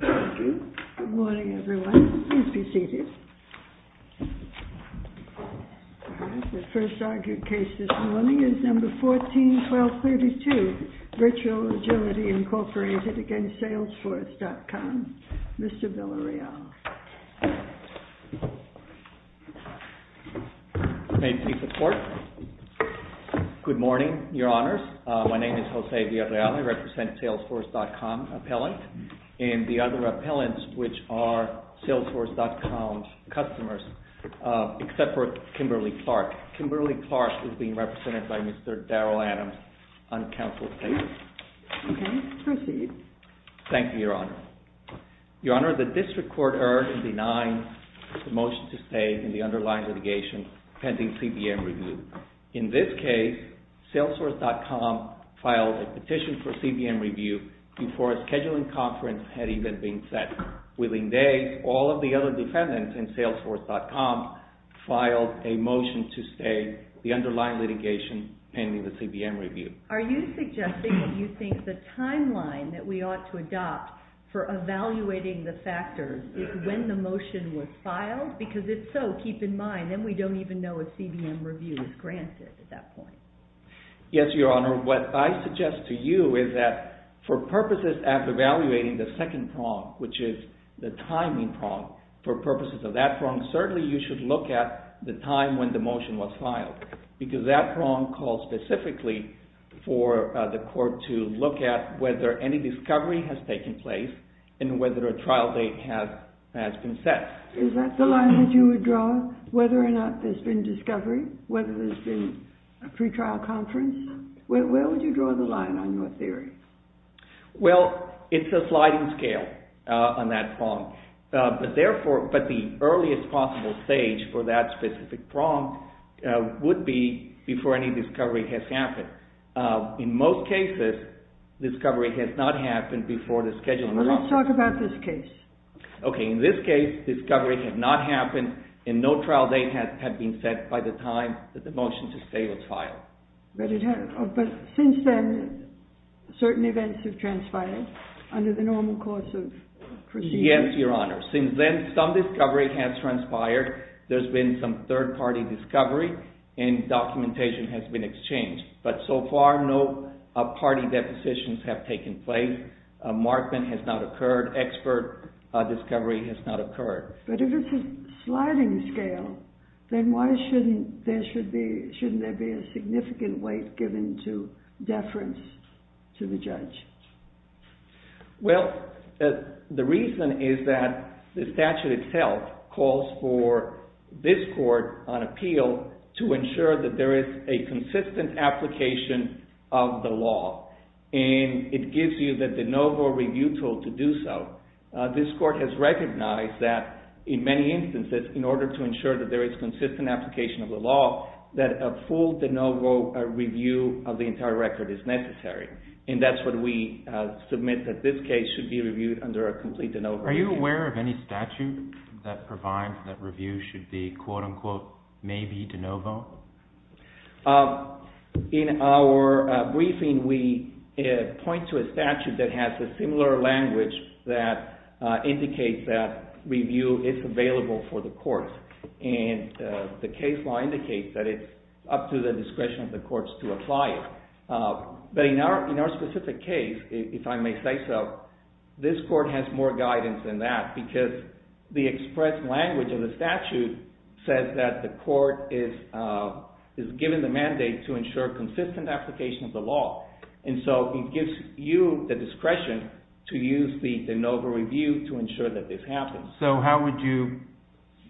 Good morning, everyone. Please be seated. The first argued case this morning is No. 14-1232, Virtual Agility Incorporated v. Salesforce.com. Mr. Villareal. Thank you for the report. Good morning, Your Honors. My name is Jose Villareal. I represent the Salesforce.com appellant. And the other appellants, which are Salesforce.com's customers, except for Kimberly Clark. Kimberly Clark is being represented by Mr. Daryl Adams on counsel's paper. Okay. Proceed. Thank you, Your Honor. Your Honor, the district court erred in denying the motion to stay in the underlying litigation pending CBM review. In this case, Salesforce.com filed a petition for CBM review before a scheduling conference had even been set. Within days, all of the other defendants in Salesforce.com filed a motion to stay the underlying litigation pending the CBM review. Are you suggesting that you think the timeline that we ought to adopt for evaluating the factors is when the motion was filed? Because if so, keep in mind, then we don't even know if CBM review is granted at that point. Yes, Your Honor. What I suggest to you is that for purposes of evaluating the second prong, which is the timing prong, for purposes of that prong, certainly you should look at the time when the motion was filed. Because that prong calls specifically for the court to look at whether any discovery has taken place and whether a trial date has been set. Is that the line that you would draw, whether or not there's been discovery, whether there's been a pretrial conference? Where would you draw the line on your theory? Well, it's a sliding scale on that prong. But the earliest possible stage for that specific prong would be before any discovery has happened. In most cases, discovery has not happened before the scheduling of the trial. Let's talk about this case. Okay. In this case, discovery had not happened and no trial date had been set by the time that the motion to stay was filed. But since then, certain events have transpired under the normal course of proceedings. Yes, Your Honor. Since then, some discovery has transpired. There's been some third-party discovery and documentation has been exchanged. But so far, no party depositions have taken place. A markment has not occurred. Expert discovery has not occurred. But if it's a sliding scale, then why shouldn't there be a significant weight given to deference to the judge? Well, the reason is that the statute itself calls for this court on appeal to ensure that there is a consistent application of the law. And it gives you the de novo review tool to do so. This court has recognized that in many instances, in order to ensure that there is consistent application of the law, that a full de novo review of the entire record is necessary. And that's what we submit that this case should be reviewed under a complete de novo review. Are you aware of any statute that provides that review should be, quote-unquote, maybe de novo? In our briefing, we point to a statute that has a similar language that indicates that review is available for the courts. And the case law indicates that it's up to the discretion of the courts to apply it. But in our specific case, if I may say so, this court has more guidance than that, because the express language of the statute says that the court is given the mandate to ensure consistent application of the law. And so it gives you the discretion to use the de novo review to ensure that this happens. So how would you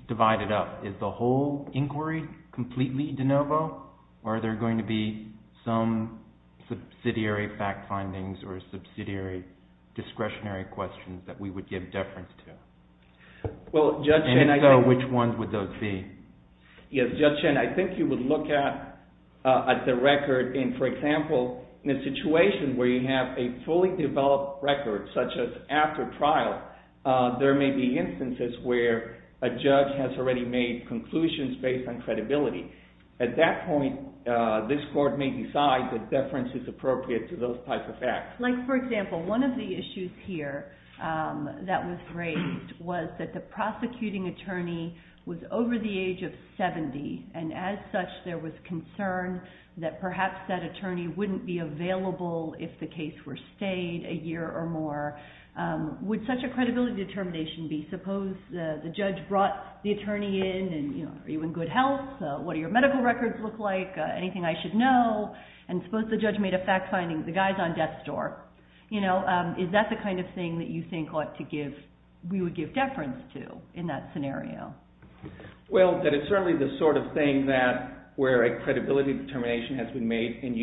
divide it up? Is the whole inquiry completely de novo, or are there going to be some subsidiary fact findings or subsidiary discretionary questions that we would give deference to? And so which ones would those be? Yes, Judge Chen, I think you would look at the record in, for example, in a situation where you have a fully developed record, such as after trial, there may be instances where a judge has already made conclusions based on credibility. At that point, this court may decide that deference is appropriate to those types of facts. Like, for example, one of the issues here that was raised was that the prosecuting attorney was over the age of 70, and as such there was concern that perhaps that attorney wouldn't be available if the case were stayed a year or more. Would such a credibility determination be, suppose the judge brought the attorney in, and are you in good health, what do your medical records look like, anything I should know? And suppose the judge made a fact finding, the guy's on death's door. Is that the kind of thing that you think we would give deference to in that scenario? Well, that it's certainly the sort of thing where a credibility determination has been made, and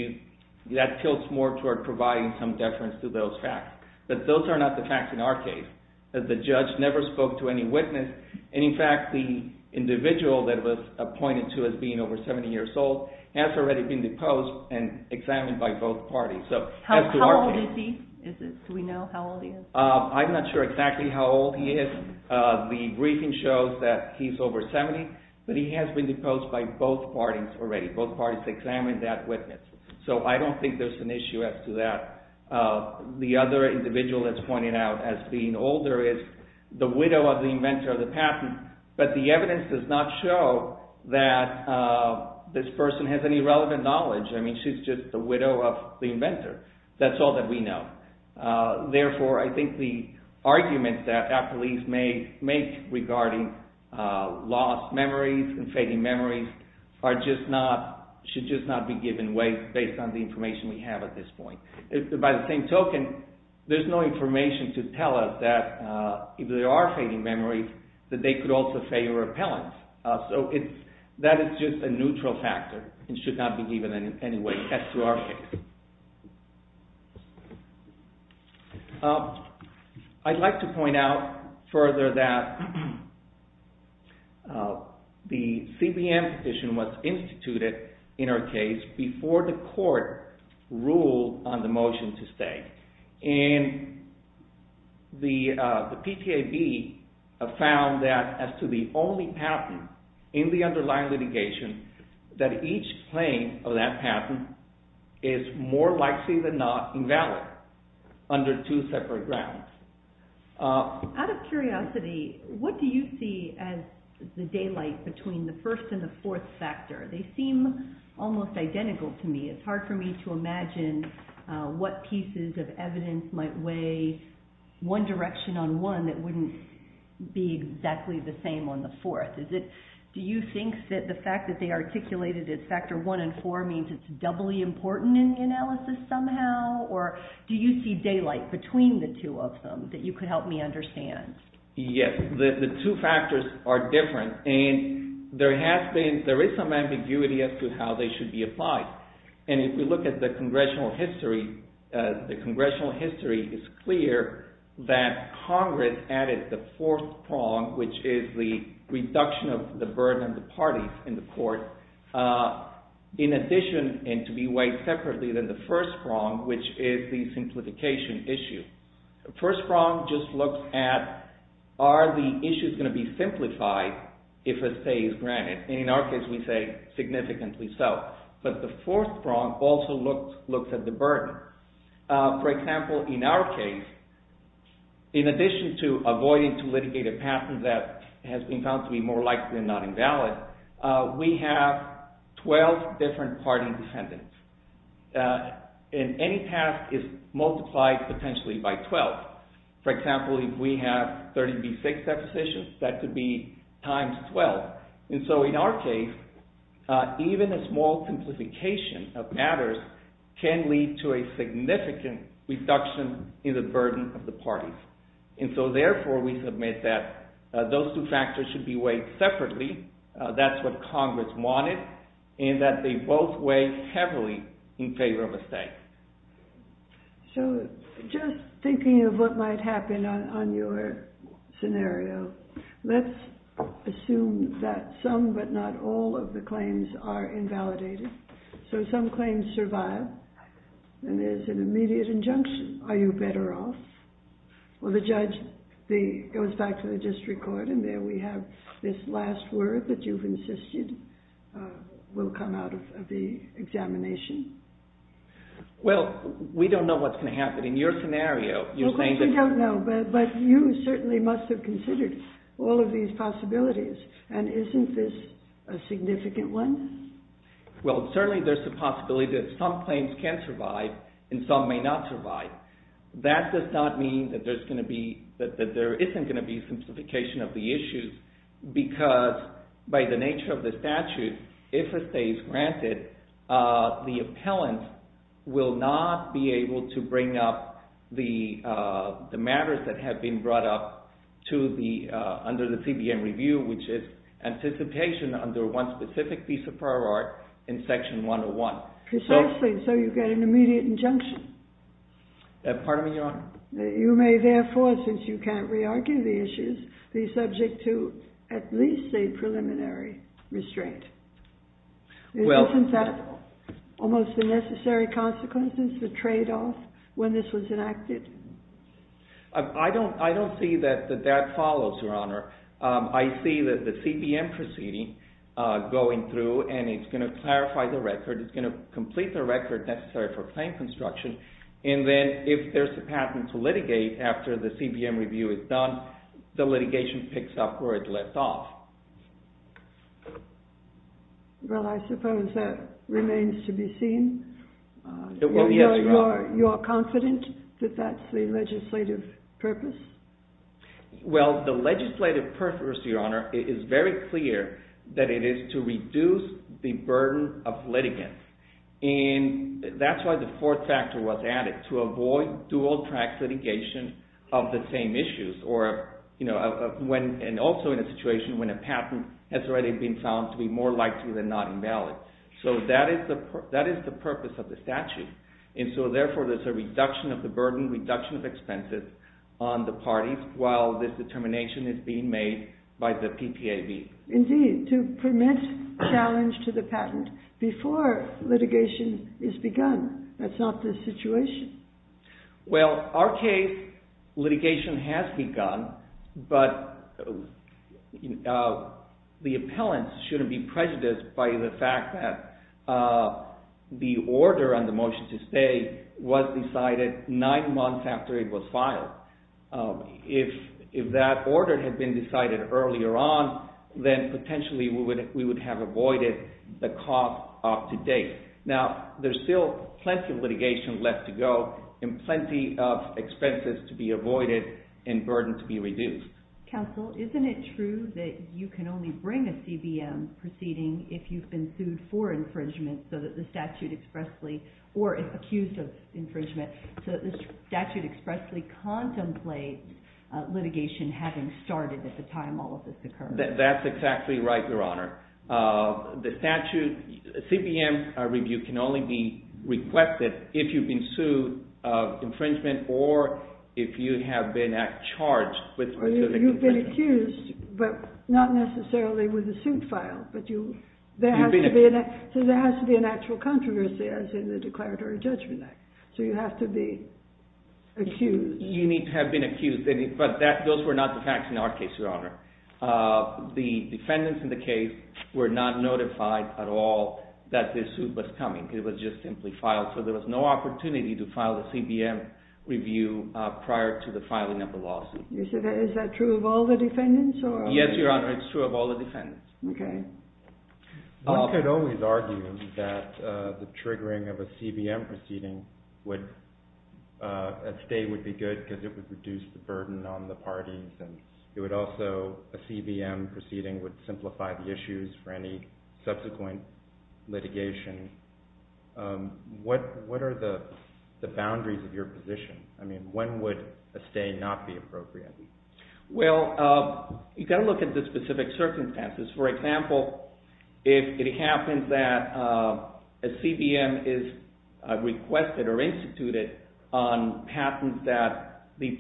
that tilts more toward providing some deference to those facts. But those are not the facts in our case. The judge never spoke to any witness, and in fact the individual that was appointed to as being over 70 years old has already been deposed and examined by both parties. How old is he? Do we know how old he is? I'm not sure exactly how old he is. The briefing shows that he's over 70, but he has been deposed by both parties already. Both parties examined that witness. So I don't think there's an issue as to that. The other individual that's pointed out as being older is the widow of the inventor of the patent, but the evidence does not show that this person has any relevant knowledge. I mean, she's just the widow of the inventor. That's all that we know. Therefore, I think the argument that a police may make regarding lost memories and fading memories should just not be given weight based on the information we have at this point. By the same token, there's no information to tell us that if there are fading memories, that they could also fail repellents. So that is just a neutral factor and should not be given any weight as to our case. I'd like to point out further that the CBM petition was instituted in our case before the court ruled on the motion to stay. And the PTAB found that as to the only patent in the underlying litigation, that each claim of that patent is more likely than not invalid under two separate grounds. Out of curiosity, what do you see as the daylight between the first and the fourth factor? They seem almost identical to me. It's hard for me to imagine what pieces of evidence might weigh one direction on one that wouldn't be exactly the same on the fourth. Do you think that the fact that they articulated it as factor one and four means it's doubly important in the analysis somehow? Or do you see daylight between the two of them that you could help me understand? Yes, the two factors are different. There is some ambiguity as to how they should be applied. And if we look at the congressional history, the congressional history is clear that Congress added the fourth prong, which is the reduction of the burden of the parties in the court, in addition and to be weighed separately than the first prong, which is the simplification issue. The first prong just looks at are the issues going to be simplified if a stay is granted. And in our case, we say significantly so. But the fourth prong also looks at the burden. For example, in our case, in addition to avoiding to litigate a patent that has been found to be more likely than not invalid, we have 12 different party defendants. And any task is multiplied potentially by 12. For example, if we have 30 v. 6 depositions, that could be times 12. And so in our case, even a small simplification of matters can lead to a significant reduction in the burden of the parties. And so therefore, we submit that those two factors should be weighed separately. That's what Congress wanted. And that they both weigh heavily in favor of a stay. So just thinking of what might happen on your scenario, let's assume that some but not all of the claims are invalidated. So some claims survive, and there's an immediate injunction. Are you better off? Well, the judge goes back to the district court, and there we have this last word that you've insisted will come out of the examination. Well, we don't know what's going to happen. In your scenario, you're saying that... Of course we don't know, but you certainly must have considered all of these possibilities. And isn't this a significant one? Well, certainly there's a possibility that some claims can survive and some may not survive. That does not mean that there isn't going to be simplification of the issues because by the nature of the statute, if a stay is granted, the appellant will not be able to bring up the matters that have been brought up under the CBN review, which is anticipation under one specific piece of prior art in Section 101. Precisely, so you get an immediate injunction. Pardon me, Your Honor? You may therefore, since you can't re-argue the issues, be subject to at least a preliminary restraint. Well... Isn't that almost the necessary consequences, the trade-off, when this was enacted? I don't see that that follows, Your Honor. I see that the CBN proceeding going through, and it's going to clarify the record. It's going to complete the record necessary for claim construction, and then if there's a patent to litigate after the CBN review is done, the litigation picks up where it left off. Well, I suppose that remains to be seen. You're confident that that's the legislative purpose? Well, the legislative purpose, Your Honor, is very clear that it is to reduce the burden of litigants, and that's why the fourth factor was added, to avoid dual-track litigation of the same issues, and also in a situation when a patent has already been found to be more likely than not invalid. So that is the purpose of the statute, and so therefore there's a reduction of the burden, reduction of expenses on the parties, while this determination is being made by the PPAB. Indeed, to prevent challenge to the patent before litigation is begun. That's not the situation. Well, our case, litigation has begun, but the appellant shouldn't be prejudiced by the fact that the order on the motion to stay was decided nine months after it was filed. If that order had been decided earlier on, then potentially we would have avoided the cost up to date. Now, there's still plenty of litigation left to go and plenty of expenses to be avoided and burden to be reduced. Counsel, isn't it true that you can only bring a CBM proceeding if you've been sued for infringement so that the statute expressly, or if accused of infringement, so that the statute expressly contemplates litigation having started at the time all of this occurred? That's exactly right, Your Honor. The statute, CBM review can only be requested if you've been sued of infringement or if you have been charged with specific infringement. You've been accused, but not necessarily with a suit filed, but there has to be an actual controversy, as in the Declaratory Judgment Act. So you have to be accused. You need to have been accused, but those were not the facts in our case, Your Honor. The defendants in the case were not notified at all that this suit was coming. It was just simply filed, so there was no opportunity to file a CBM review prior to the filing of the lawsuit. Is that true of all the defendants? Yes, Your Honor, it's true of all the defendants. Okay. One could always argue that the triggering of a CBM proceeding would, a stay would be good because it would reduce the burden on the parties and it would also, a CBM proceeding would simplify the issues for any subsequent litigation. What are the boundaries of your position? I mean, when would a stay not be appropriate? Well, you've got to look at the specific circumstances. For example, if it happens that a CBM is requested or instituted on claims that the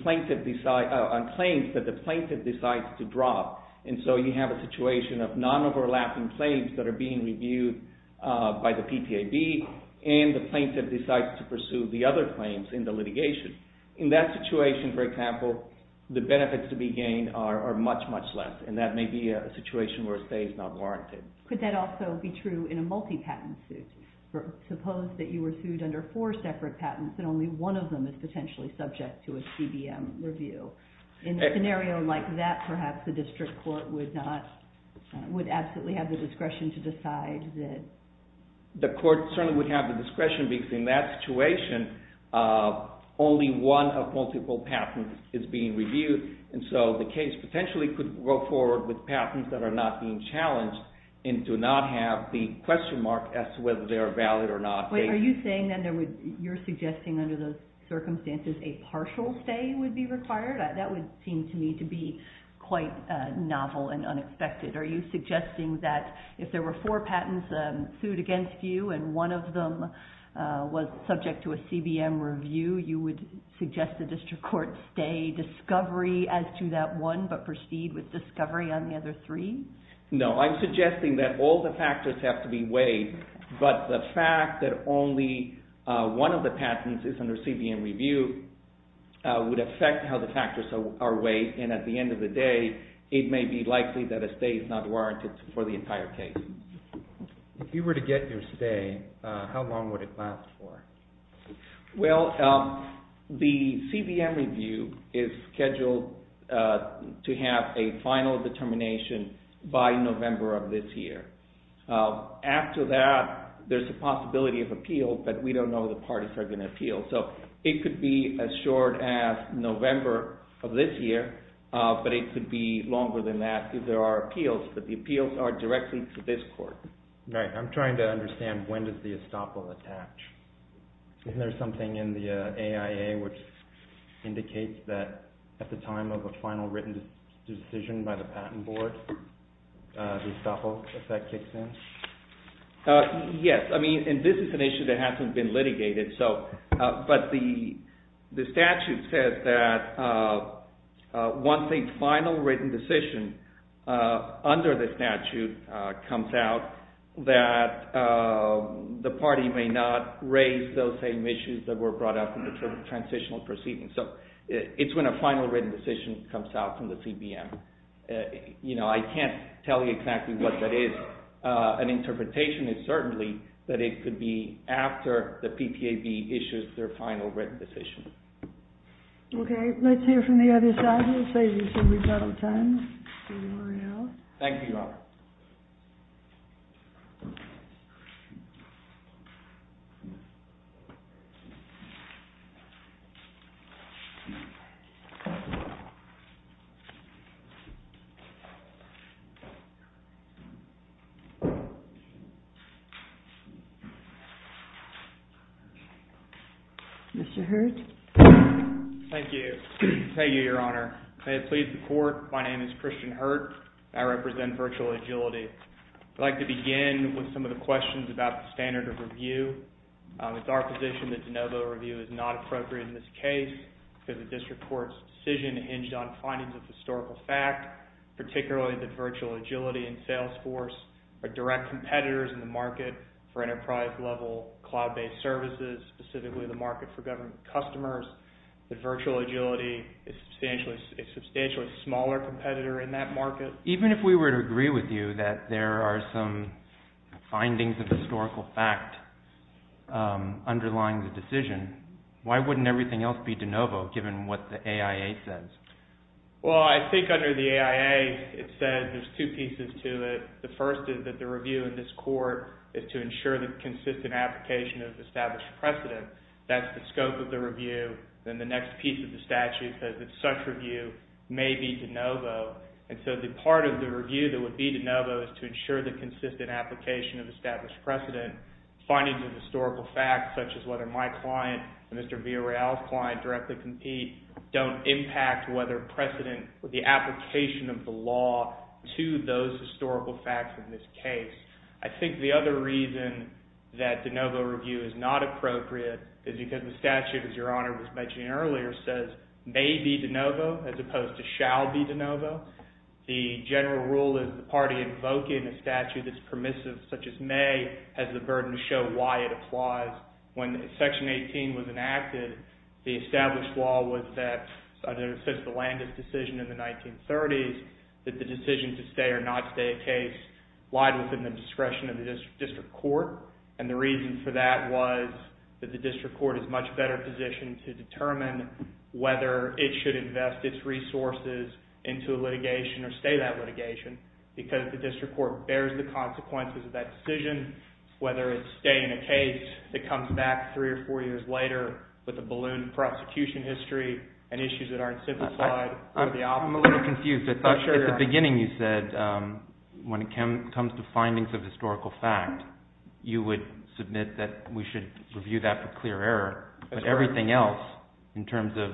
plaintiff decides to drop and so you have a situation of non-overlapping claims that are being reviewed by the PTAB and the plaintiff decides to pursue the other claims in the litigation. In that situation, for example, the benefits to be gained are much, much less and that may be a situation where a stay is not warranted. Could that also be true in a multi-patent suit? Suppose that you were sued under four separate patents and only one of them is potentially subject to a CBM review. In a scenario like that, perhaps the district court would absolutely have the discretion to decide that... The court certainly would have the discretion because in that situation, only one of multiple patents is being reviewed and so the case potentially could go forward with patents that are not being challenged and do not have the question mark as to whether they are valid or not. Are you saying that you're suggesting under those circumstances a partial stay would be required? That would seem to me to be quite novel and unexpected. Are you suggesting that if there were four patents sued against you and one of them was subject to a CBM review, you would suggest the district court stay discovery as to that one but proceed with discovery on the other three? No, I'm suggesting that all the factors have to be weighed but the fact that only one of the patents is under CBM review would affect how the factors are weighed and at the end of the day, it may be likely that a stay is not warranted for the entire case. If you were to get your stay, how long would it last for? Well, the CBM review is scheduled to have a final determination by November of this year. After that, there's a possibility of appeal but we don't know the parties that are going to appeal so it could be as short as November of this year but it could be longer than that if there are appeals but the appeals are directly to this court. I'm trying to understand when does the estoppel attach? Isn't there something in the AIA which indicates that at the time of a final written decision by the patent board, the estoppel effect kicks in? Yes, and this is an issue that hasn't been litigated but the statute says that once a final written decision under the statute comes out, that the party may not raise those same issues that were brought up in the transitional proceedings so it's when a final written decision comes out from the CBM. I can't tell you exactly what that is. An interpretation is certainly that it could be after the PTAB issues their final written decision. Okay, let's hear from the other side. I will say this is rebuttal time. Thank you, Your Honor. Mr. Hurt. Thank you. Thank you, Your Honor. May it please the court, my name is Christian Hurt. I represent Virtual Agility. I'd like to begin with some of the questions about the standard of review. It's our position that de novo review is not appropriate in this case because the district court's decision hinged on findings of historical fact, particularly that Virtual Agility and Salesforce are direct competitors in the market for enterprise-level cloud-based services, specifically the market for government customers, that Virtual Agility is a substantially smaller competitor in that market. Even if we were to agree with you that there are some findings of historical fact underlying the decision, why wouldn't everything else be de novo given what the AIA says? Well, I think under the AIA it says there's two pieces to it. The first is that the review in this court is to ensure the consistent application of established precedent. That's the scope of the review. Then the next piece of the statute says that such review may be de novo. And so the part of the review that would be de novo is to ensure the consistent application of established precedent. Findings of historical fact, such as whether my client and Mr. Villareal's client directly compete, don't impact whether precedent with the application of the law to those historical facts in this case. I think the other reason that de novo review is not appropriate is because the statute, as Your Honor was mentioning earlier, says may be de novo as opposed to shall be de novo. The general rule is the party invoking a statute that's permissive, such as may, has the burden to show why it applies. When Section 18 was enacted, the established law was that, such as the Landis decision in the 1930s, that the decision to stay or not stay a case lied within the discretion of the district court. And the reason for that was that the district court is much better positioned to determine whether it should invest its resources into litigation or stay that litigation because the district court bears the consequences of that decision, whether it's staying a case that comes back three or four years later with a ballooned prosecution history and issues that aren't simplified. I'm a little confused. At the beginning you said when it comes to findings of historical fact, you would submit that we should review that for clear error, but everything else in terms of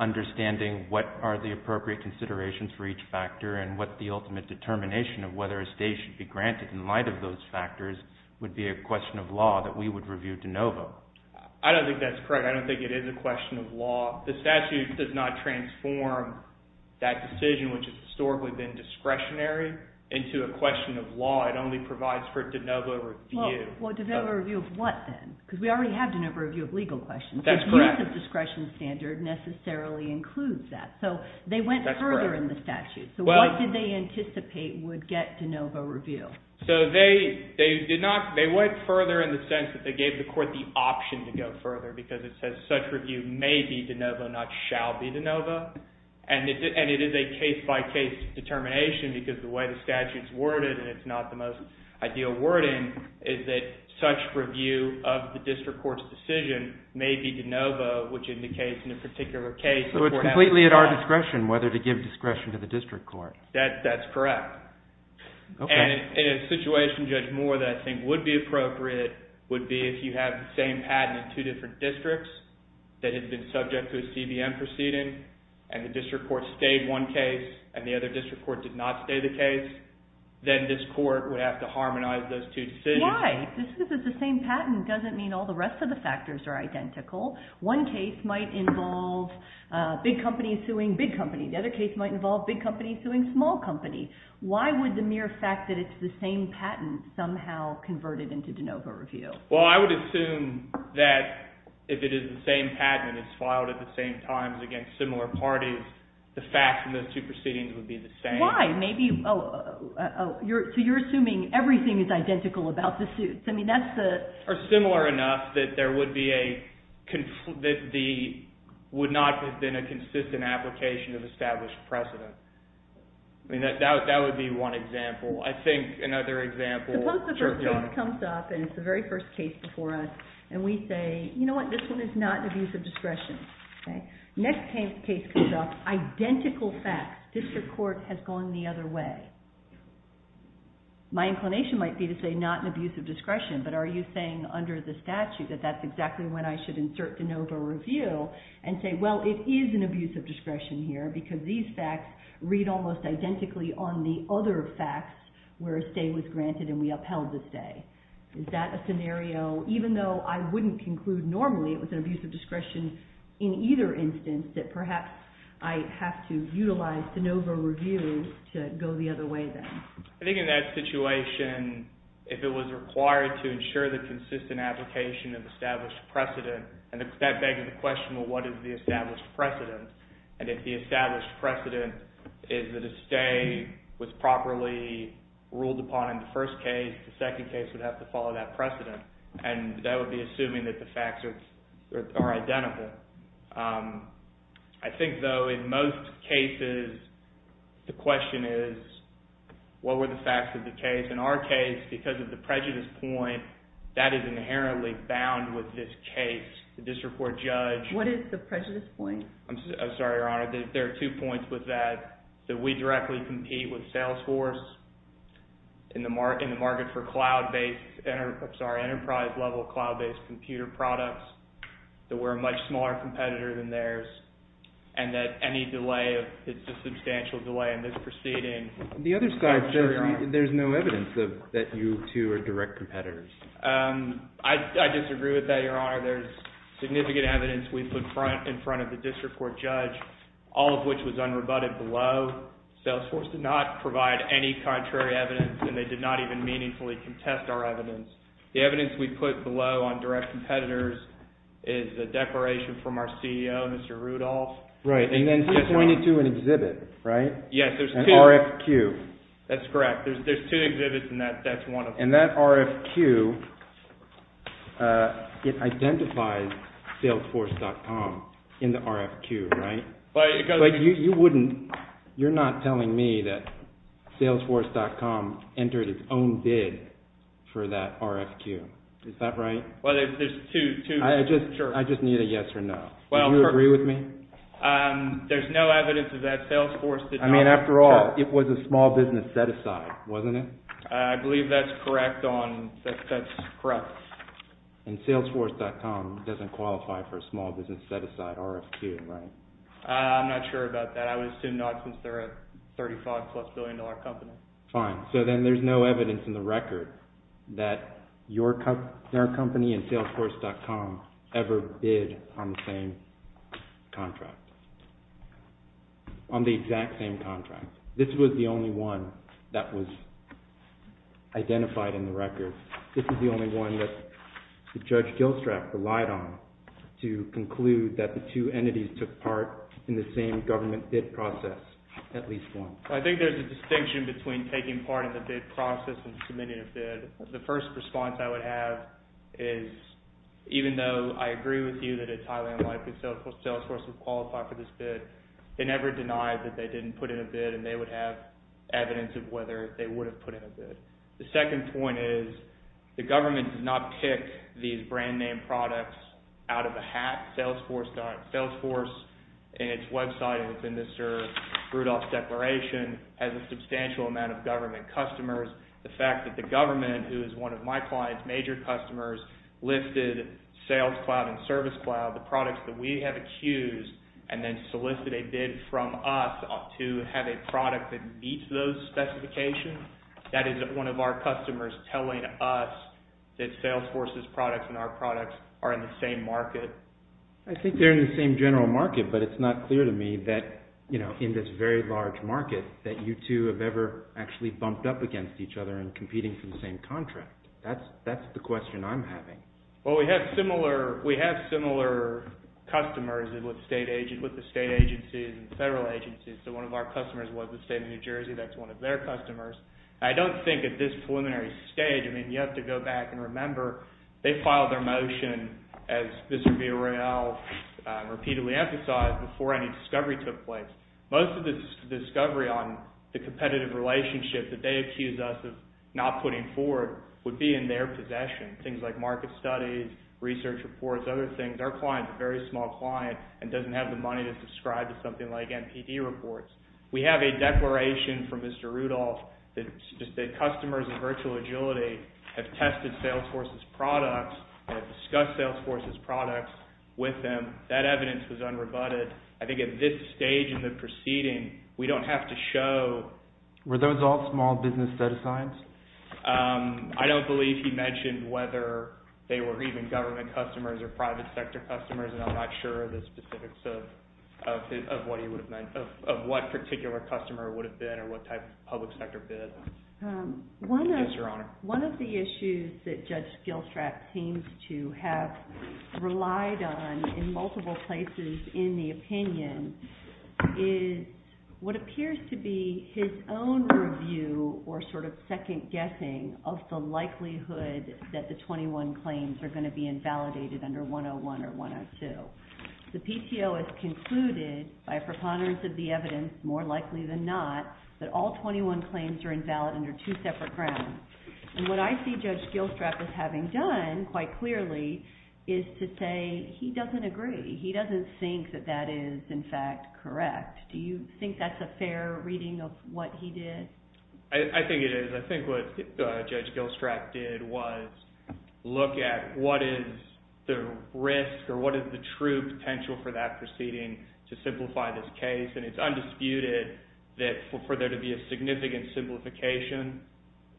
understanding what are the appropriate considerations for each factor and what the ultimate determination of whether a stay should be granted in light of those factors would be a question of law that we would review de novo. I don't think that's correct. I don't think it is a question of law. The statute does not transform that decision, which has historically been discretionary, into a question of law. It only provides for de novo review. Well, de novo review of what then? Because we already have de novo review of legal questions. That's correct. The use of discretion standard necessarily includes that. So they went further in the statute. So what did they anticipate would get de novo review? So they went further in the sense that they gave the court the option to go further because it says such review may be de novo, not shall be de novo. And it is a case-by-case determination because the way the statute's worded, and it's not the most ideal wording, is that such review of the district court's decision may be de novo, which indicates in a particular case the court has the right... So it's completely at our discretion whether to give discretion to the district court. That's correct. And in a situation, Judge Moore, that I think would be appropriate would be if you have the same patent in two different districts that had been subject to a CBM proceeding and the district court stayed one case and the other district court did not stay the case, then this court would have to harmonize those two decisions. Why? Just because it's the same patent doesn't mean all the rest of the factors are identical. One case might involve big companies suing big companies. The other case might involve big companies suing small companies. Why would the mere fact that it's the same patent somehow convert it into de novo review? Well, I would assume that if it is the same patent and it's filed at the same time against similar parties, the facts in those two proceedings would be the same. Why? Maybe... So you're assuming everything is identical about the suits. I mean, that's the... Or similar enough that there would be a... that there would not have been a consistent application of established precedent. I mean, that would be one example. I think another example... Suppose the first case comes up and it's the very first case before us and we say, you know what? This one is not an abuse of discretion. Next case comes up, identical facts. District court has gone the other way. My inclination might be to say not an abuse of discretion, but are you saying under the statute that that's exactly when I should insert de novo review and say, well, it is an abuse of discretion here because these facts read almost identically on the other facts where a stay was granted and we upheld the stay? Is that a scenario, even though I wouldn't conclude normally it was an abuse of discretion in either instance, that perhaps I have to utilize de novo review to go the other way then? I think in that situation, if it was required to ensure the consistent application of established precedent, that begs the question, well, what is the established precedent? And if the established precedent is that a stay was properly ruled upon in the first case, the second case would have to follow that precedent and that would be assuming that the facts are identical. I think, though, in most cases, the question is what were the facts of the case? In our case, because of the prejudice point, that is inherently bound with this case. The district court judge... What is the prejudice point? I'm sorry, Your Honor. There are two points with that. That we directly compete with Salesforce in the market for enterprise-level cloud-based computer products. That we're a much smaller competitor than theirs and that any delay, if it's a substantial delay in this proceeding... The other side says there's no evidence that you two are direct competitors. I disagree with that, Your Honor. There's significant evidence we put in front of the district court judge, all of which was unrebutted below. Salesforce did not provide any contrary evidence and they did not even meaningfully contest our evidence. The evidence we put below on direct competitors is a declaration from our CEO, Mr. Rudolph. Right, and then he pointed to an exhibit, right? Yes, there's two. An RFQ. That's correct. There's two exhibits and that's one of them. And that RFQ, it identifies Salesforce.com in the RFQ, right? But you wouldn't... You're not telling me that Salesforce.com entered its own bid for that RFQ. Is that right? Well, there's two. I just need a yes or no. Do you agree with me? There's no evidence that Salesforce did not... I mean, after all, it was a small business set-aside, wasn't it? I believe that's correct on... That's correct. And Salesforce.com doesn't qualify for a small business set-aside RFQ, right? I'm not sure about that. I would assume not since they're a $35-plus billion company. Fine. So then there's no evidence in the record that your company and Salesforce.com ever bid on the same contract. On the exact same contract. This was the only one that was identified in the record. This is the only one that Judge Gilstrap relied on to conclude that the two entities took part in the same government bid process, at least one. I think there's a distinction between taking part in the bid process and submitting a bid. The first response I would have is, that it's highly unlikely Salesforce would qualify for this bid, but they never denied that they didn't put in a bid and they would have evidence of whether they would have put in a bid. The second point is, the government did not pick these brand-name products out of a hat. Salesforce and its website within the Sir Rudolph Declaration has a substantial amount of government customers. The fact that the government, who is one of my client's major customers, lifted Sales Cloud and Service Cloud, the products that we have accused, and then solicited a bid from us to have a product that meets those specifications, that is one of our customers telling us that Salesforce's products and our products are in the same market. I think they're in the same general market, but it's not clear to me that in this very large market, that you two have ever actually bumped up against each other and competing for the same contract. That's the question I'm having. Well, we have similar customers with the state agencies and federal agencies, so one of our customers was the state of New Jersey. That's one of their customers. I don't think at this preliminary stage, I mean, you have to go back and remember they filed their motion, as Mr. Villarreal repeatedly emphasized, before any discovery took place. Most of the discovery on the competitive relationship that they accused us of not putting forward would be in their possession, things like market studies, research reports, other things. Our client's a very small client and doesn't have the money to subscribe to something like NPD reports. We have a declaration from Mr. Rudolph that customers of Virtual Agility have tested Salesforce's products and have discussed Salesforce's products with them. That evidence was unrebutted. I think at this stage in the proceeding, we don't have to show... Were those all small business data science? I don't believe he mentioned whether they were even government customers or private sector customers, and I'm not sure of the specifics of what he would have meant, of what particular customer it would have been or what type of public sector bid. Yes, Your Honor. One of the issues that Judge Gilstrap seems to have relied on in multiple places in the opinion is what appears to be his own review or sort of second guessing of the likelihood that the 21 claims are going to be invalidated under 101 or 102. The PTO has concluded, by preponderance of the evidence, more likely than not, that all 21 claims are invalid under two separate grounds. And what I see Judge Gilstrap as having done, quite clearly, is to say he doesn't agree. He doesn't think that that is, in fact, correct. Do you think that's a fair reading of what he did? I think it is. I think what Judge Gilstrap did was look at what is the risk or what is the true potential for that proceeding to simplify this case. And it's undisputed that for there to be a significant simplification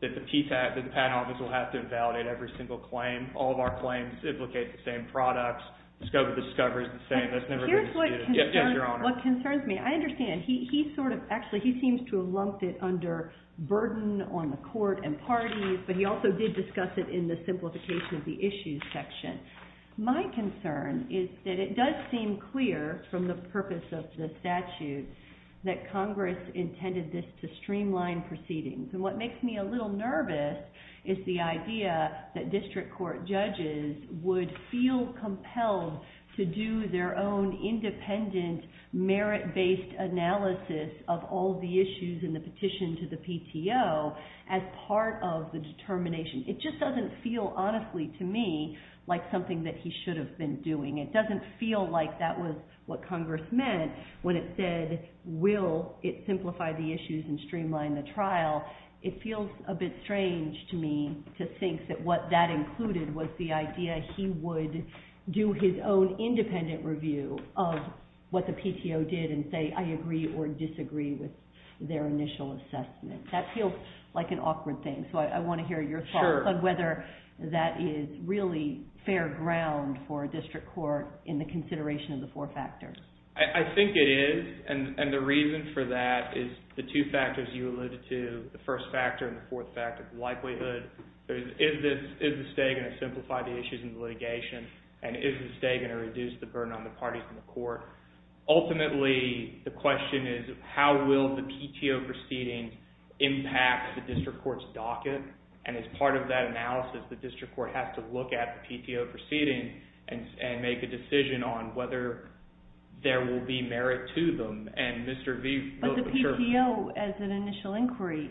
that the Patent Office will have to invalidate every single claim. All of our claims implicate the same products. Discover is the same. That's never been disputed. Here's what concerns me. I understand. Actually, he seems to have lumped it under burden on the court and parties, but he also did discuss it in the simplification of the issues section. My concern is that it does seem clear from the purpose of the statute that Congress intended this to streamline proceedings. And what makes me a little nervous is the idea that district court judges would feel compelled to do their own independent, merit-based analysis of all the issues in the petition to the PTO as part of the determination. It just doesn't feel honestly to me like something that he should have been doing. It doesn't feel like that was what Congress meant when it said, will it simplify the issues and streamline the trial. It feels a bit strange to me to think that what that included was the idea he would do his own independent review of what the PTO did and say, I agree or disagree with their initial assessment. That feels like an awkward thing, so I want to hear your thoughts on whether that is really fair ground for district court in the consideration of the four factors. I think it is, and the reason for that is the two factors you alluded to, the first factor and the fourth factor, the likelihood. Is the state going to simplify the issues in the litigation, and is the state going to reduce the burden on the parties in the court? Ultimately, the question is, how will the PTO proceeding impact the district court's docket? As part of that analysis, the district court has to look at the PTO proceeding and make a decision on whether there will be merit to them. Mr. V, but the PTO as an initial inquiry,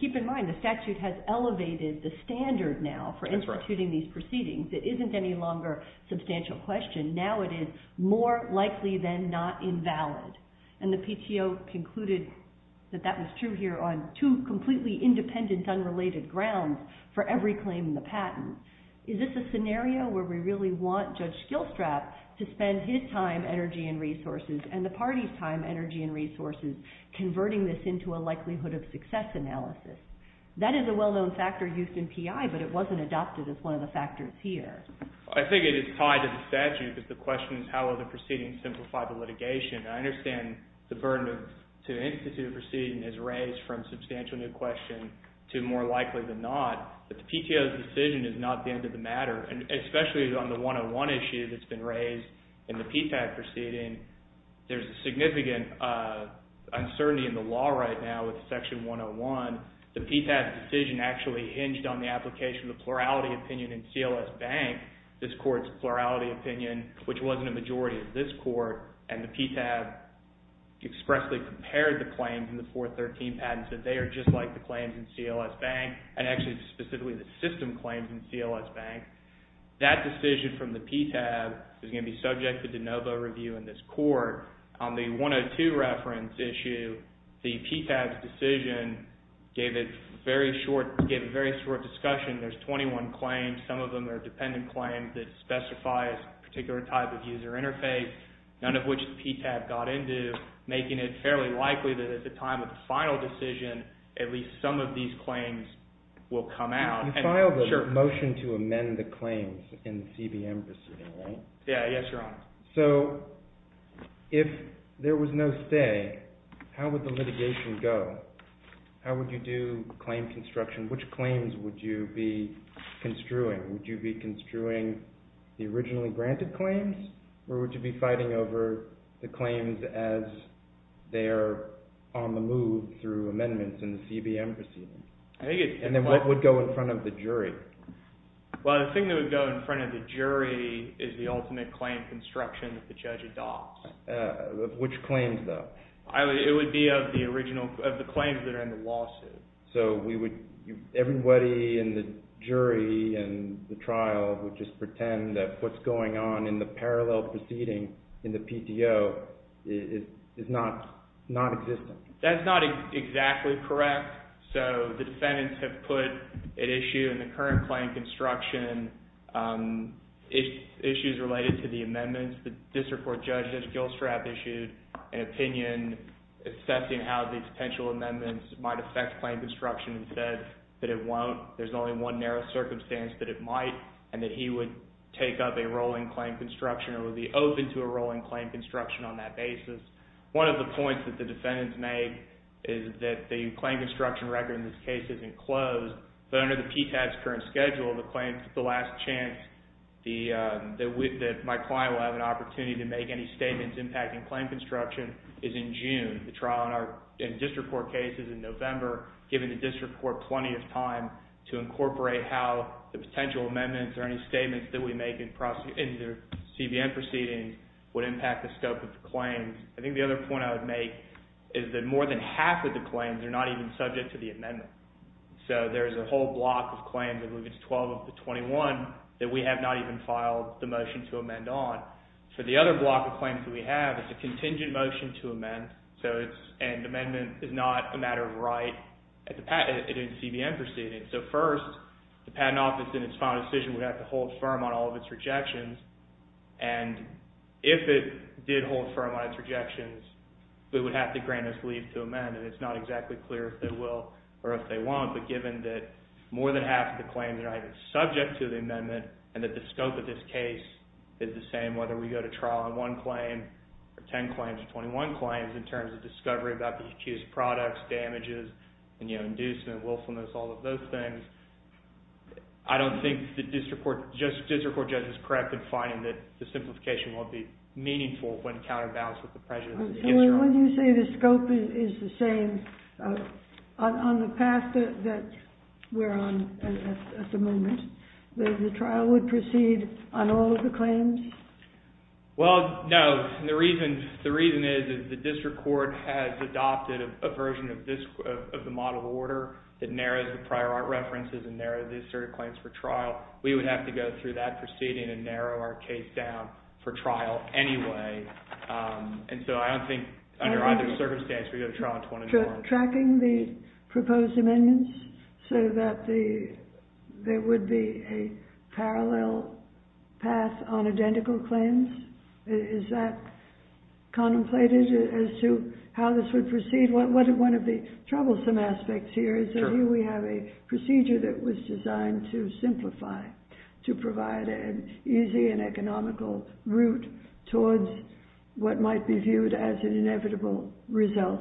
keep in mind, the statute has elevated the standard now for instituting these proceedings. It isn't any longer a substantial question. Now it is more likely than not invalid, and the PTO concluded that that was true here on two completely independent, unrelated grounds for every claim in the patent. Is this a scenario where we really want Judge Skillstrap to spend his time, energy, and resources, and the party's time, energy, and resources, converting this into a likelihood of success analysis? That is a well-known factor used in PI, but it wasn't adopted as one of the factors here. I think it is tied to the statute, because the question is, how will the proceedings simplify the litigation? I understand the burden to institute a proceeding is raised from substantial new question to more likely than not, but the PTO's decision is not the end of the matter, and especially on the 101 issue that's been raised in the PFAT proceeding, there's a significant uncertainty in the law right now with Section 101. The PFAT decision actually hinged on the application of the plurality opinion in CLS Bank, this court's plurality opinion, which wasn't a majority of this court, and the PTAB expressly compared the claims in the 413 patents, that they are just like the claims in CLS Bank, and actually specifically the system claims in CLS Bank. That decision from the PTAB is going to be subject to de novo review in this court. On the 102 reference issue, the PTAB's decision gave a very short discussion. There's 21 claims, some of them are dependent claims that specify a particular type of user interface, none of which the PTAB got into, making it fairly likely that at the time of the final decision, at least some of these claims will come out. You filed a motion to amend the claims in the CBM proceeding, right? Yeah, yes, Your Honor. So, if there was no stay, how would the litigation go? How would you do claim construction? Which claims would you be construing? Would you be construing the originally granted claims, or would you be fighting over the claims as they are on the move through amendments in the CBM proceeding? And then what would go in front of the jury? Well, the thing that would go in front of the jury is the ultimate claim construction that the judge adopts. Which claims, though? It would be of the claims that are in the lawsuit. So, everybody in the jury and the trial would just pretend that what's going on in the parallel proceeding in the PTO is non-existent. That's not exactly correct. So, the defendants have put at issue in the current claim construction issues related to the amendments. The district court judge, Judge Gilstrap, issued an opinion assessing how these potential amendments might affect claim construction and said that it won't. There's only one narrow circumstance that it might, and that he would take up a rolling claim construction or would be open to a rolling claim construction on that basis. One of the points that the defendants made is that the claim construction record in this case isn't closed, but under the PTAD's current schedule, the last chance that my client will have an opportunity to make any statements impacting claim construction is in June. The trial in our district court case is in November, giving the district court plenty of time to incorporate how the potential amendments or any statements that we make in the CBN proceedings would impact the scope of the claims. I think the other point I would make is that more than half of the claims are not even subject to the amendment. So, there's a whole block of claims, I believe it's 12 of the 21, that we have not even filed the motion to amend on. For the other block of claims that we have, it's a contingent motion to amend, and amendment is not a matter of right in the CBN proceedings. So, first, the Patent Office, in its final decision, would have to hold firm on all of its rejections, and if it did hold firm on its rejections, it would have to grant us leave to amend, and it's not exactly clear if they will or if they won't, but given that more than half of the claims are not even subject to the amendment and that the scope of this case is the same, whether we go to trial on one claim, or 10 claims, or 21 claims, in terms of discovery about the accused products, damages, and, you know, inducement, willfulness, all of those things, I don't think the district court judge is correct in finding that the simplification won't be meaningful when counterbalanced with the prejudice of the history. When you say the scope is the same, on the path that we're on at the moment, that the trial would proceed on all of the claims? Well, no. The reason is that the district court has adopted a version of the model order that narrows the prior art references and narrows the asserted claims for trial. We would have to go through that proceeding and narrow our case down for trial anyway, and so I don't think, under either circumstance, we would go to trial on 21. Tracking the proposed amendments so that there would be a parallel path on identical claims, is that contemplated as to how this would proceed? One of the troublesome aspects here is that here we have a procedure that was designed to simplify, to provide an easy and economical route towards what might be viewed as an inevitable result,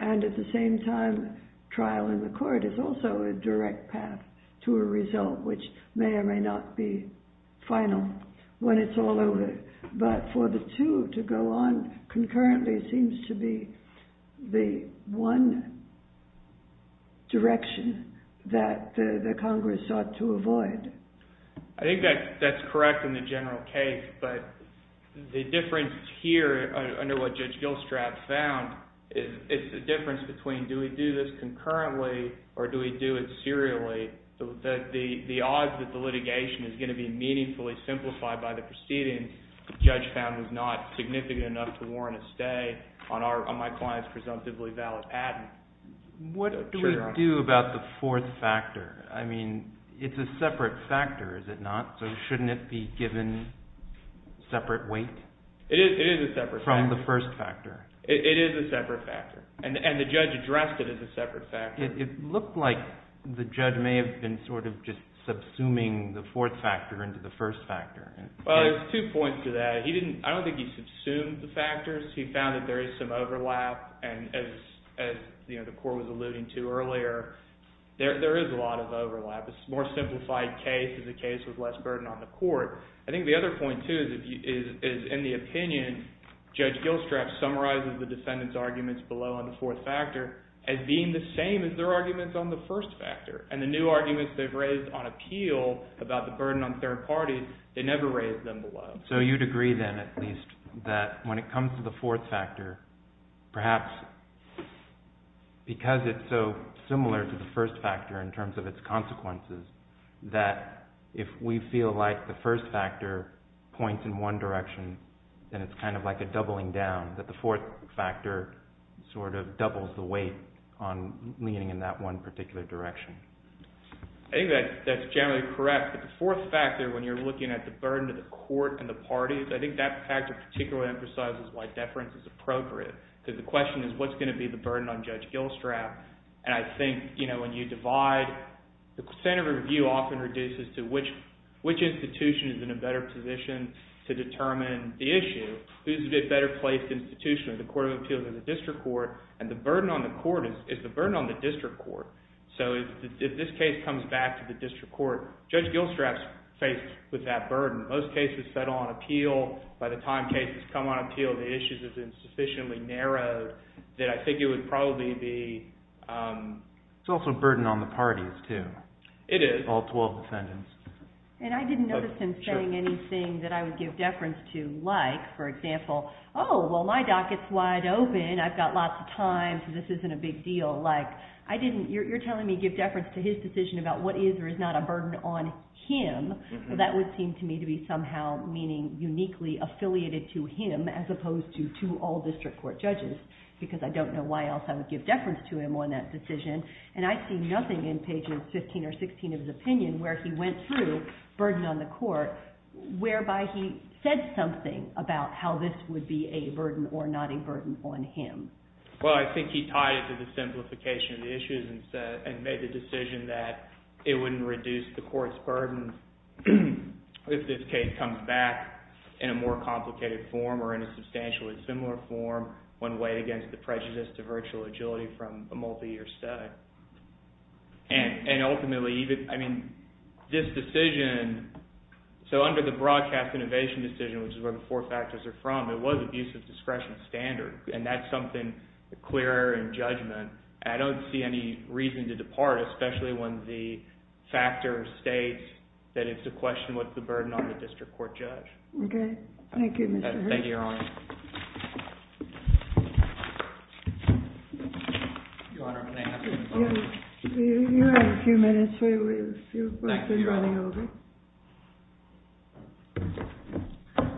and at the same time, trial in the court is also a direct path to a result which may or may not be final when it's all over, but for the two to go on concurrently seems to be the one direction that the Congress sought to avoid. I think that's correct in the general case, but the difference here, under what Judge Gilstrap found, is the difference between, do we do this concurrently or do we do it serially, that the odds that the litigation is going to be meaningfully simplified by the proceeding, the judge found was not significant enough to warrant a stay on my client's presumptively valid addendum. What do we do about the fourth factor? I mean, it's a separate factor, is it not? So shouldn't it be given separate weight? It is a separate factor. From the first factor. It is a separate factor, and the judge addressed it as a separate factor. It looked like the judge may have been sort of just subsuming the fourth factor into the first factor. Well, there's two points to that. I don't think he subsumed the factors. He found that there is some overlap, and as the court was alluding to earlier, there is a lot of overlap. It's a more simplified case. It's a case with less burden on the court. I think the other point, too, is in the opinion, Judge Gilstraff summarizes the defendant's arguments below on the fourth factor as being the same as their arguments on the first factor, and the new arguments they've raised on appeal about the burden on third parties, they never raised them below. So you'd agree then, at least, that when it comes to the fourth factor, perhaps because it's so similar to the first factor in terms of its consequences, that if we feel like the first factor points in one direction, then it's kind of like a doubling down, that the fourth factor sort of doubles the weight on leaning in that one particular direction. I think that's generally correct, but the fourth factor, when you're looking at the burden to the court and the parties, I think that factor particularly emphasizes why deference is appropriate, because the question is, what's going to be the burden on Judge Gilstraff? And I think, you know, when you divide... The standard of review often reduces to which institution is in a better position to determine the issue. Who's the better placed institution, the Court of Appeals or the District Court? And the burden on the Court is the burden on the District Court. So if this case comes back to the District Court, Judge Gilstraff's faced with that burden. Most cases settle on appeal. By the time cases come on appeal, the issues have been sufficiently narrowed that I think it would probably be... It is. All 12 defendants. And I didn't notice him saying anything that I would give deference to, like, for example, oh, well, my docket's wide open, I've got lots of time, so this isn't a big deal. Like, I didn't... You're telling me give deference to his decision about what is or is not a burden on him. That would seem to me to be somehow, meaning uniquely affiliated to him as opposed to all District Court judges, because I don't know why else I would give deference to him on that decision. And I see nothing in page 15 or 16 of his opinion where he went through burden on the court whereby he said something about how this would be a burden or not a burden on him. Well, I think he tied it to the simplification of the issues and made the decision that it wouldn't reduce the court's burden if this case comes back in a more complicated form or in a substantially similar form when weighed against the prejudice to virtual agility from a multi-year study. And ultimately, even... I mean, this decision... So under the broadcast innovation decision, which is where the four factors are from, it was abusive discretion standard, and that's something clearer in judgment. I don't see any reason to depart, especially when the factor states that it's a question what's the burden on the District Court judge. Okay. Thank you, Mr. Hurst. Thank you, Your Honor. Your Honor, can I ask a few questions? You have a few minutes for a few questions running over. Thank you, Your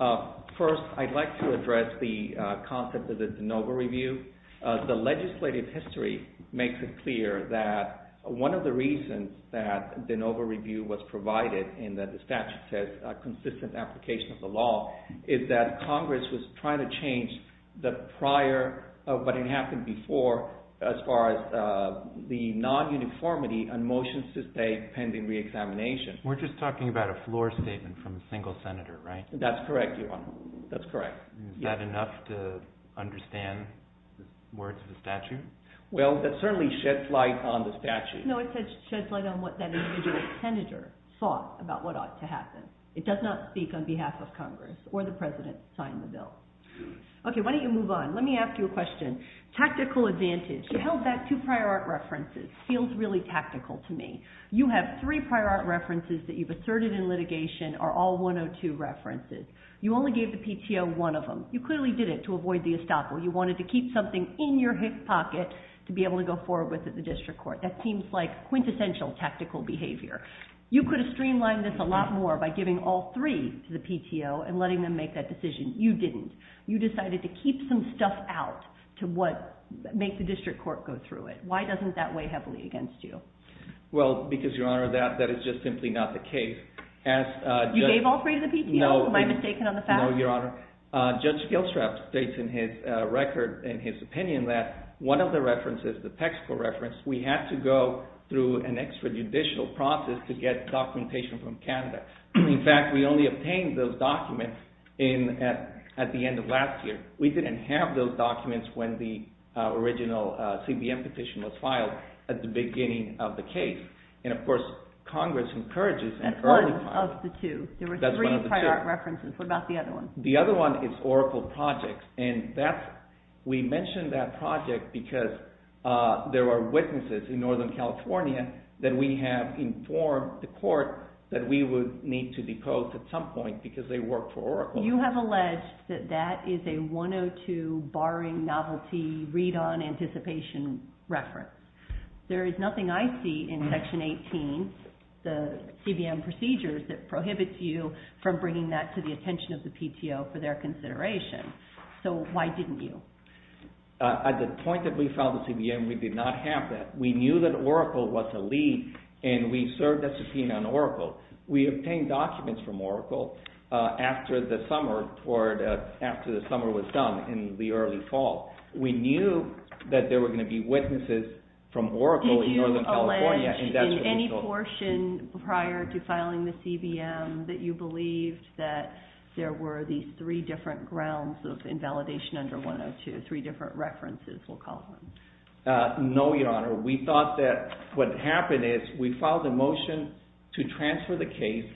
Honor. First, I'd like to address the concept of the de novo review. The legislative history makes it clear that one of the reasons that the de novo review was provided and that the statute says a consistent application of the law is that Congress was trying to change the prior of what had happened before as far as the non-uniformity on motions to stay pending re-examination. We're just talking about a floor statement from a single senator, right? That's correct, Your Honor. That's correct. Is that enough to understand the words of the statute? Well, that certainly sheds light on the statute. No, it sheds light on what that individual senator thought about what ought to happen. It does not speak on behalf of Congress or the President signing the bill. Okay, why don't you move on? Let me ask you a question. Tactical advantage. You held back two prior art references. Feels really tactical to me. You have three prior art references that you've asserted in litigation are all 102 references. You only gave the PTO one of them. You clearly did it to avoid the estoppel. You wanted to keep something in your hip pocket to be able to go forward with at the district court. That seems like quintessential tactical behavior. You could have streamlined this a lot more by giving all three to the PTO and letting them make that decision. You didn't. You decided to keep some stuff out to make the district court go through it. Why doesn't that weigh heavily against you? Well, because, Your Honor, that is just simply not the case. You gave all three to the PTO? Am I mistaken on the facts? No, Your Honor. Judge Gilstrap states in his record, in his opinion, that one of the references, the text for reference, we had to go through an extrajudicial process to get documentation from Canada. In fact, we only obtained those documents at the end of last year. We didn't have those documents when the original CBM petition was filed at the beginning of the case. Of course, Congress encourages an early filing. That's one of the two. There were three prior references. What about the other one? The other one is Oracle Projects. We mention that project because there are witnesses in Northern California that we have informed the court that we would need to depose at some point because they work for Oracle. You have alleged that that is a 102 barring novelty read-on anticipation reference. There is nothing I see in Section 18, the CBM procedures, that prohibits you from bringing that to the attention of the PTO for their consideration. So why didn't you? At the point that we filed the CBM, we did not have that. We knew that Oracle was to lead and we served a subpoena on Oracle. We obtained documents from Oracle after the summer was done in the early fall. We knew that there were going to be witnesses from Oracle in Northern California. Did you allege in any portion prior to filing the CBM that you believed that there were these three different grounds of invalidation under 102, three different references we'll call them? No, Your Honor. We thought that what happened is we filed a motion to transfer the case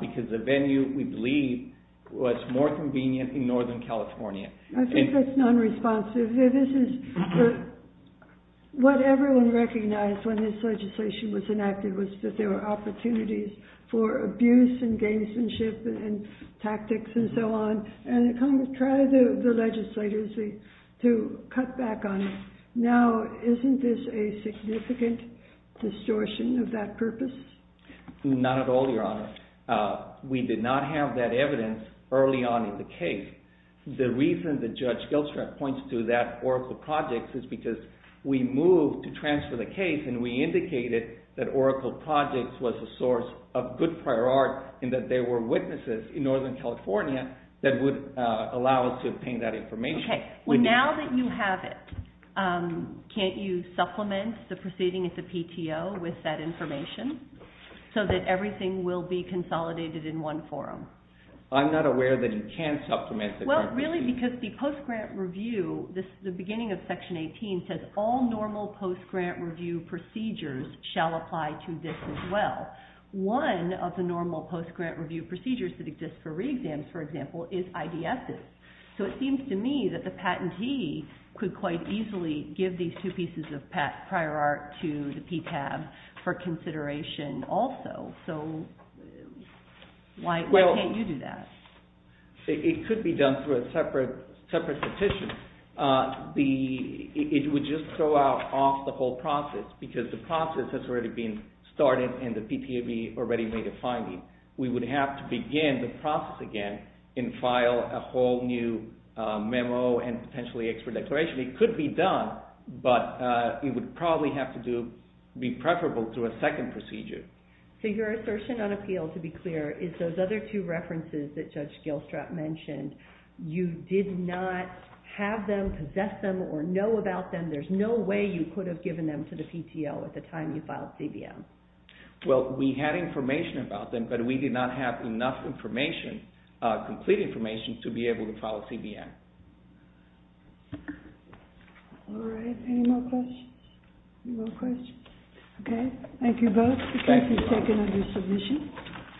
because the venue, we believe, was more convenient in Northern California. I think that's non-responsive. What everyone recognized when this legislation was enacted was that there were opportunities for abuse and gamesmanship and tactics and so on. And Congress tried the legislators to cut back on it. Now, isn't this a significant distortion of that purpose? Not at all, Your Honor. We did not have that evidence early on in the case. The reason that Judge Gilstrap points to that Oracle Projects is because we moved to transfer the case and we indicated that Oracle Projects was a source of good prior art and that there were witnesses in Northern California that would allow us to obtain that information. Well, now that you have it, can't you supplement the proceeding at the PTO with that information so that everything will be consolidated in one forum? I'm not aware that you can supplement the purpose. Well, really, because the post-grant review, the beginning of Section 18, says all normal post-grant review procedures shall apply to this as well. One of the normal post-grant review procedures that exist for re-exams, for example, is IDSs. So it seems to me that the patentee could quite easily give these two pieces of prior art to the PTAB for consideration also. So, why can't you do that? It could be done through a separate petition. It would just throw out off the whole process because the process has already been started and the PTAB already made a finding. We would have to begin the process again and file a whole new memo and potentially extra declaration. It could be done, but it would probably have to be preferable to a second procedure. So your assertion on appeal, to be clear, is those other two references that Judge Gilstrap mentioned, you did not have them, possess them, or know about them. There's no way you could have given them to the PTO at the time you filed CBM. Well, we had information about them, but we did not have enough information, complete information, to be able to file CBM. All right, any more questions? No questions? Okay, thank you both. Thank you. You may be taken under submission.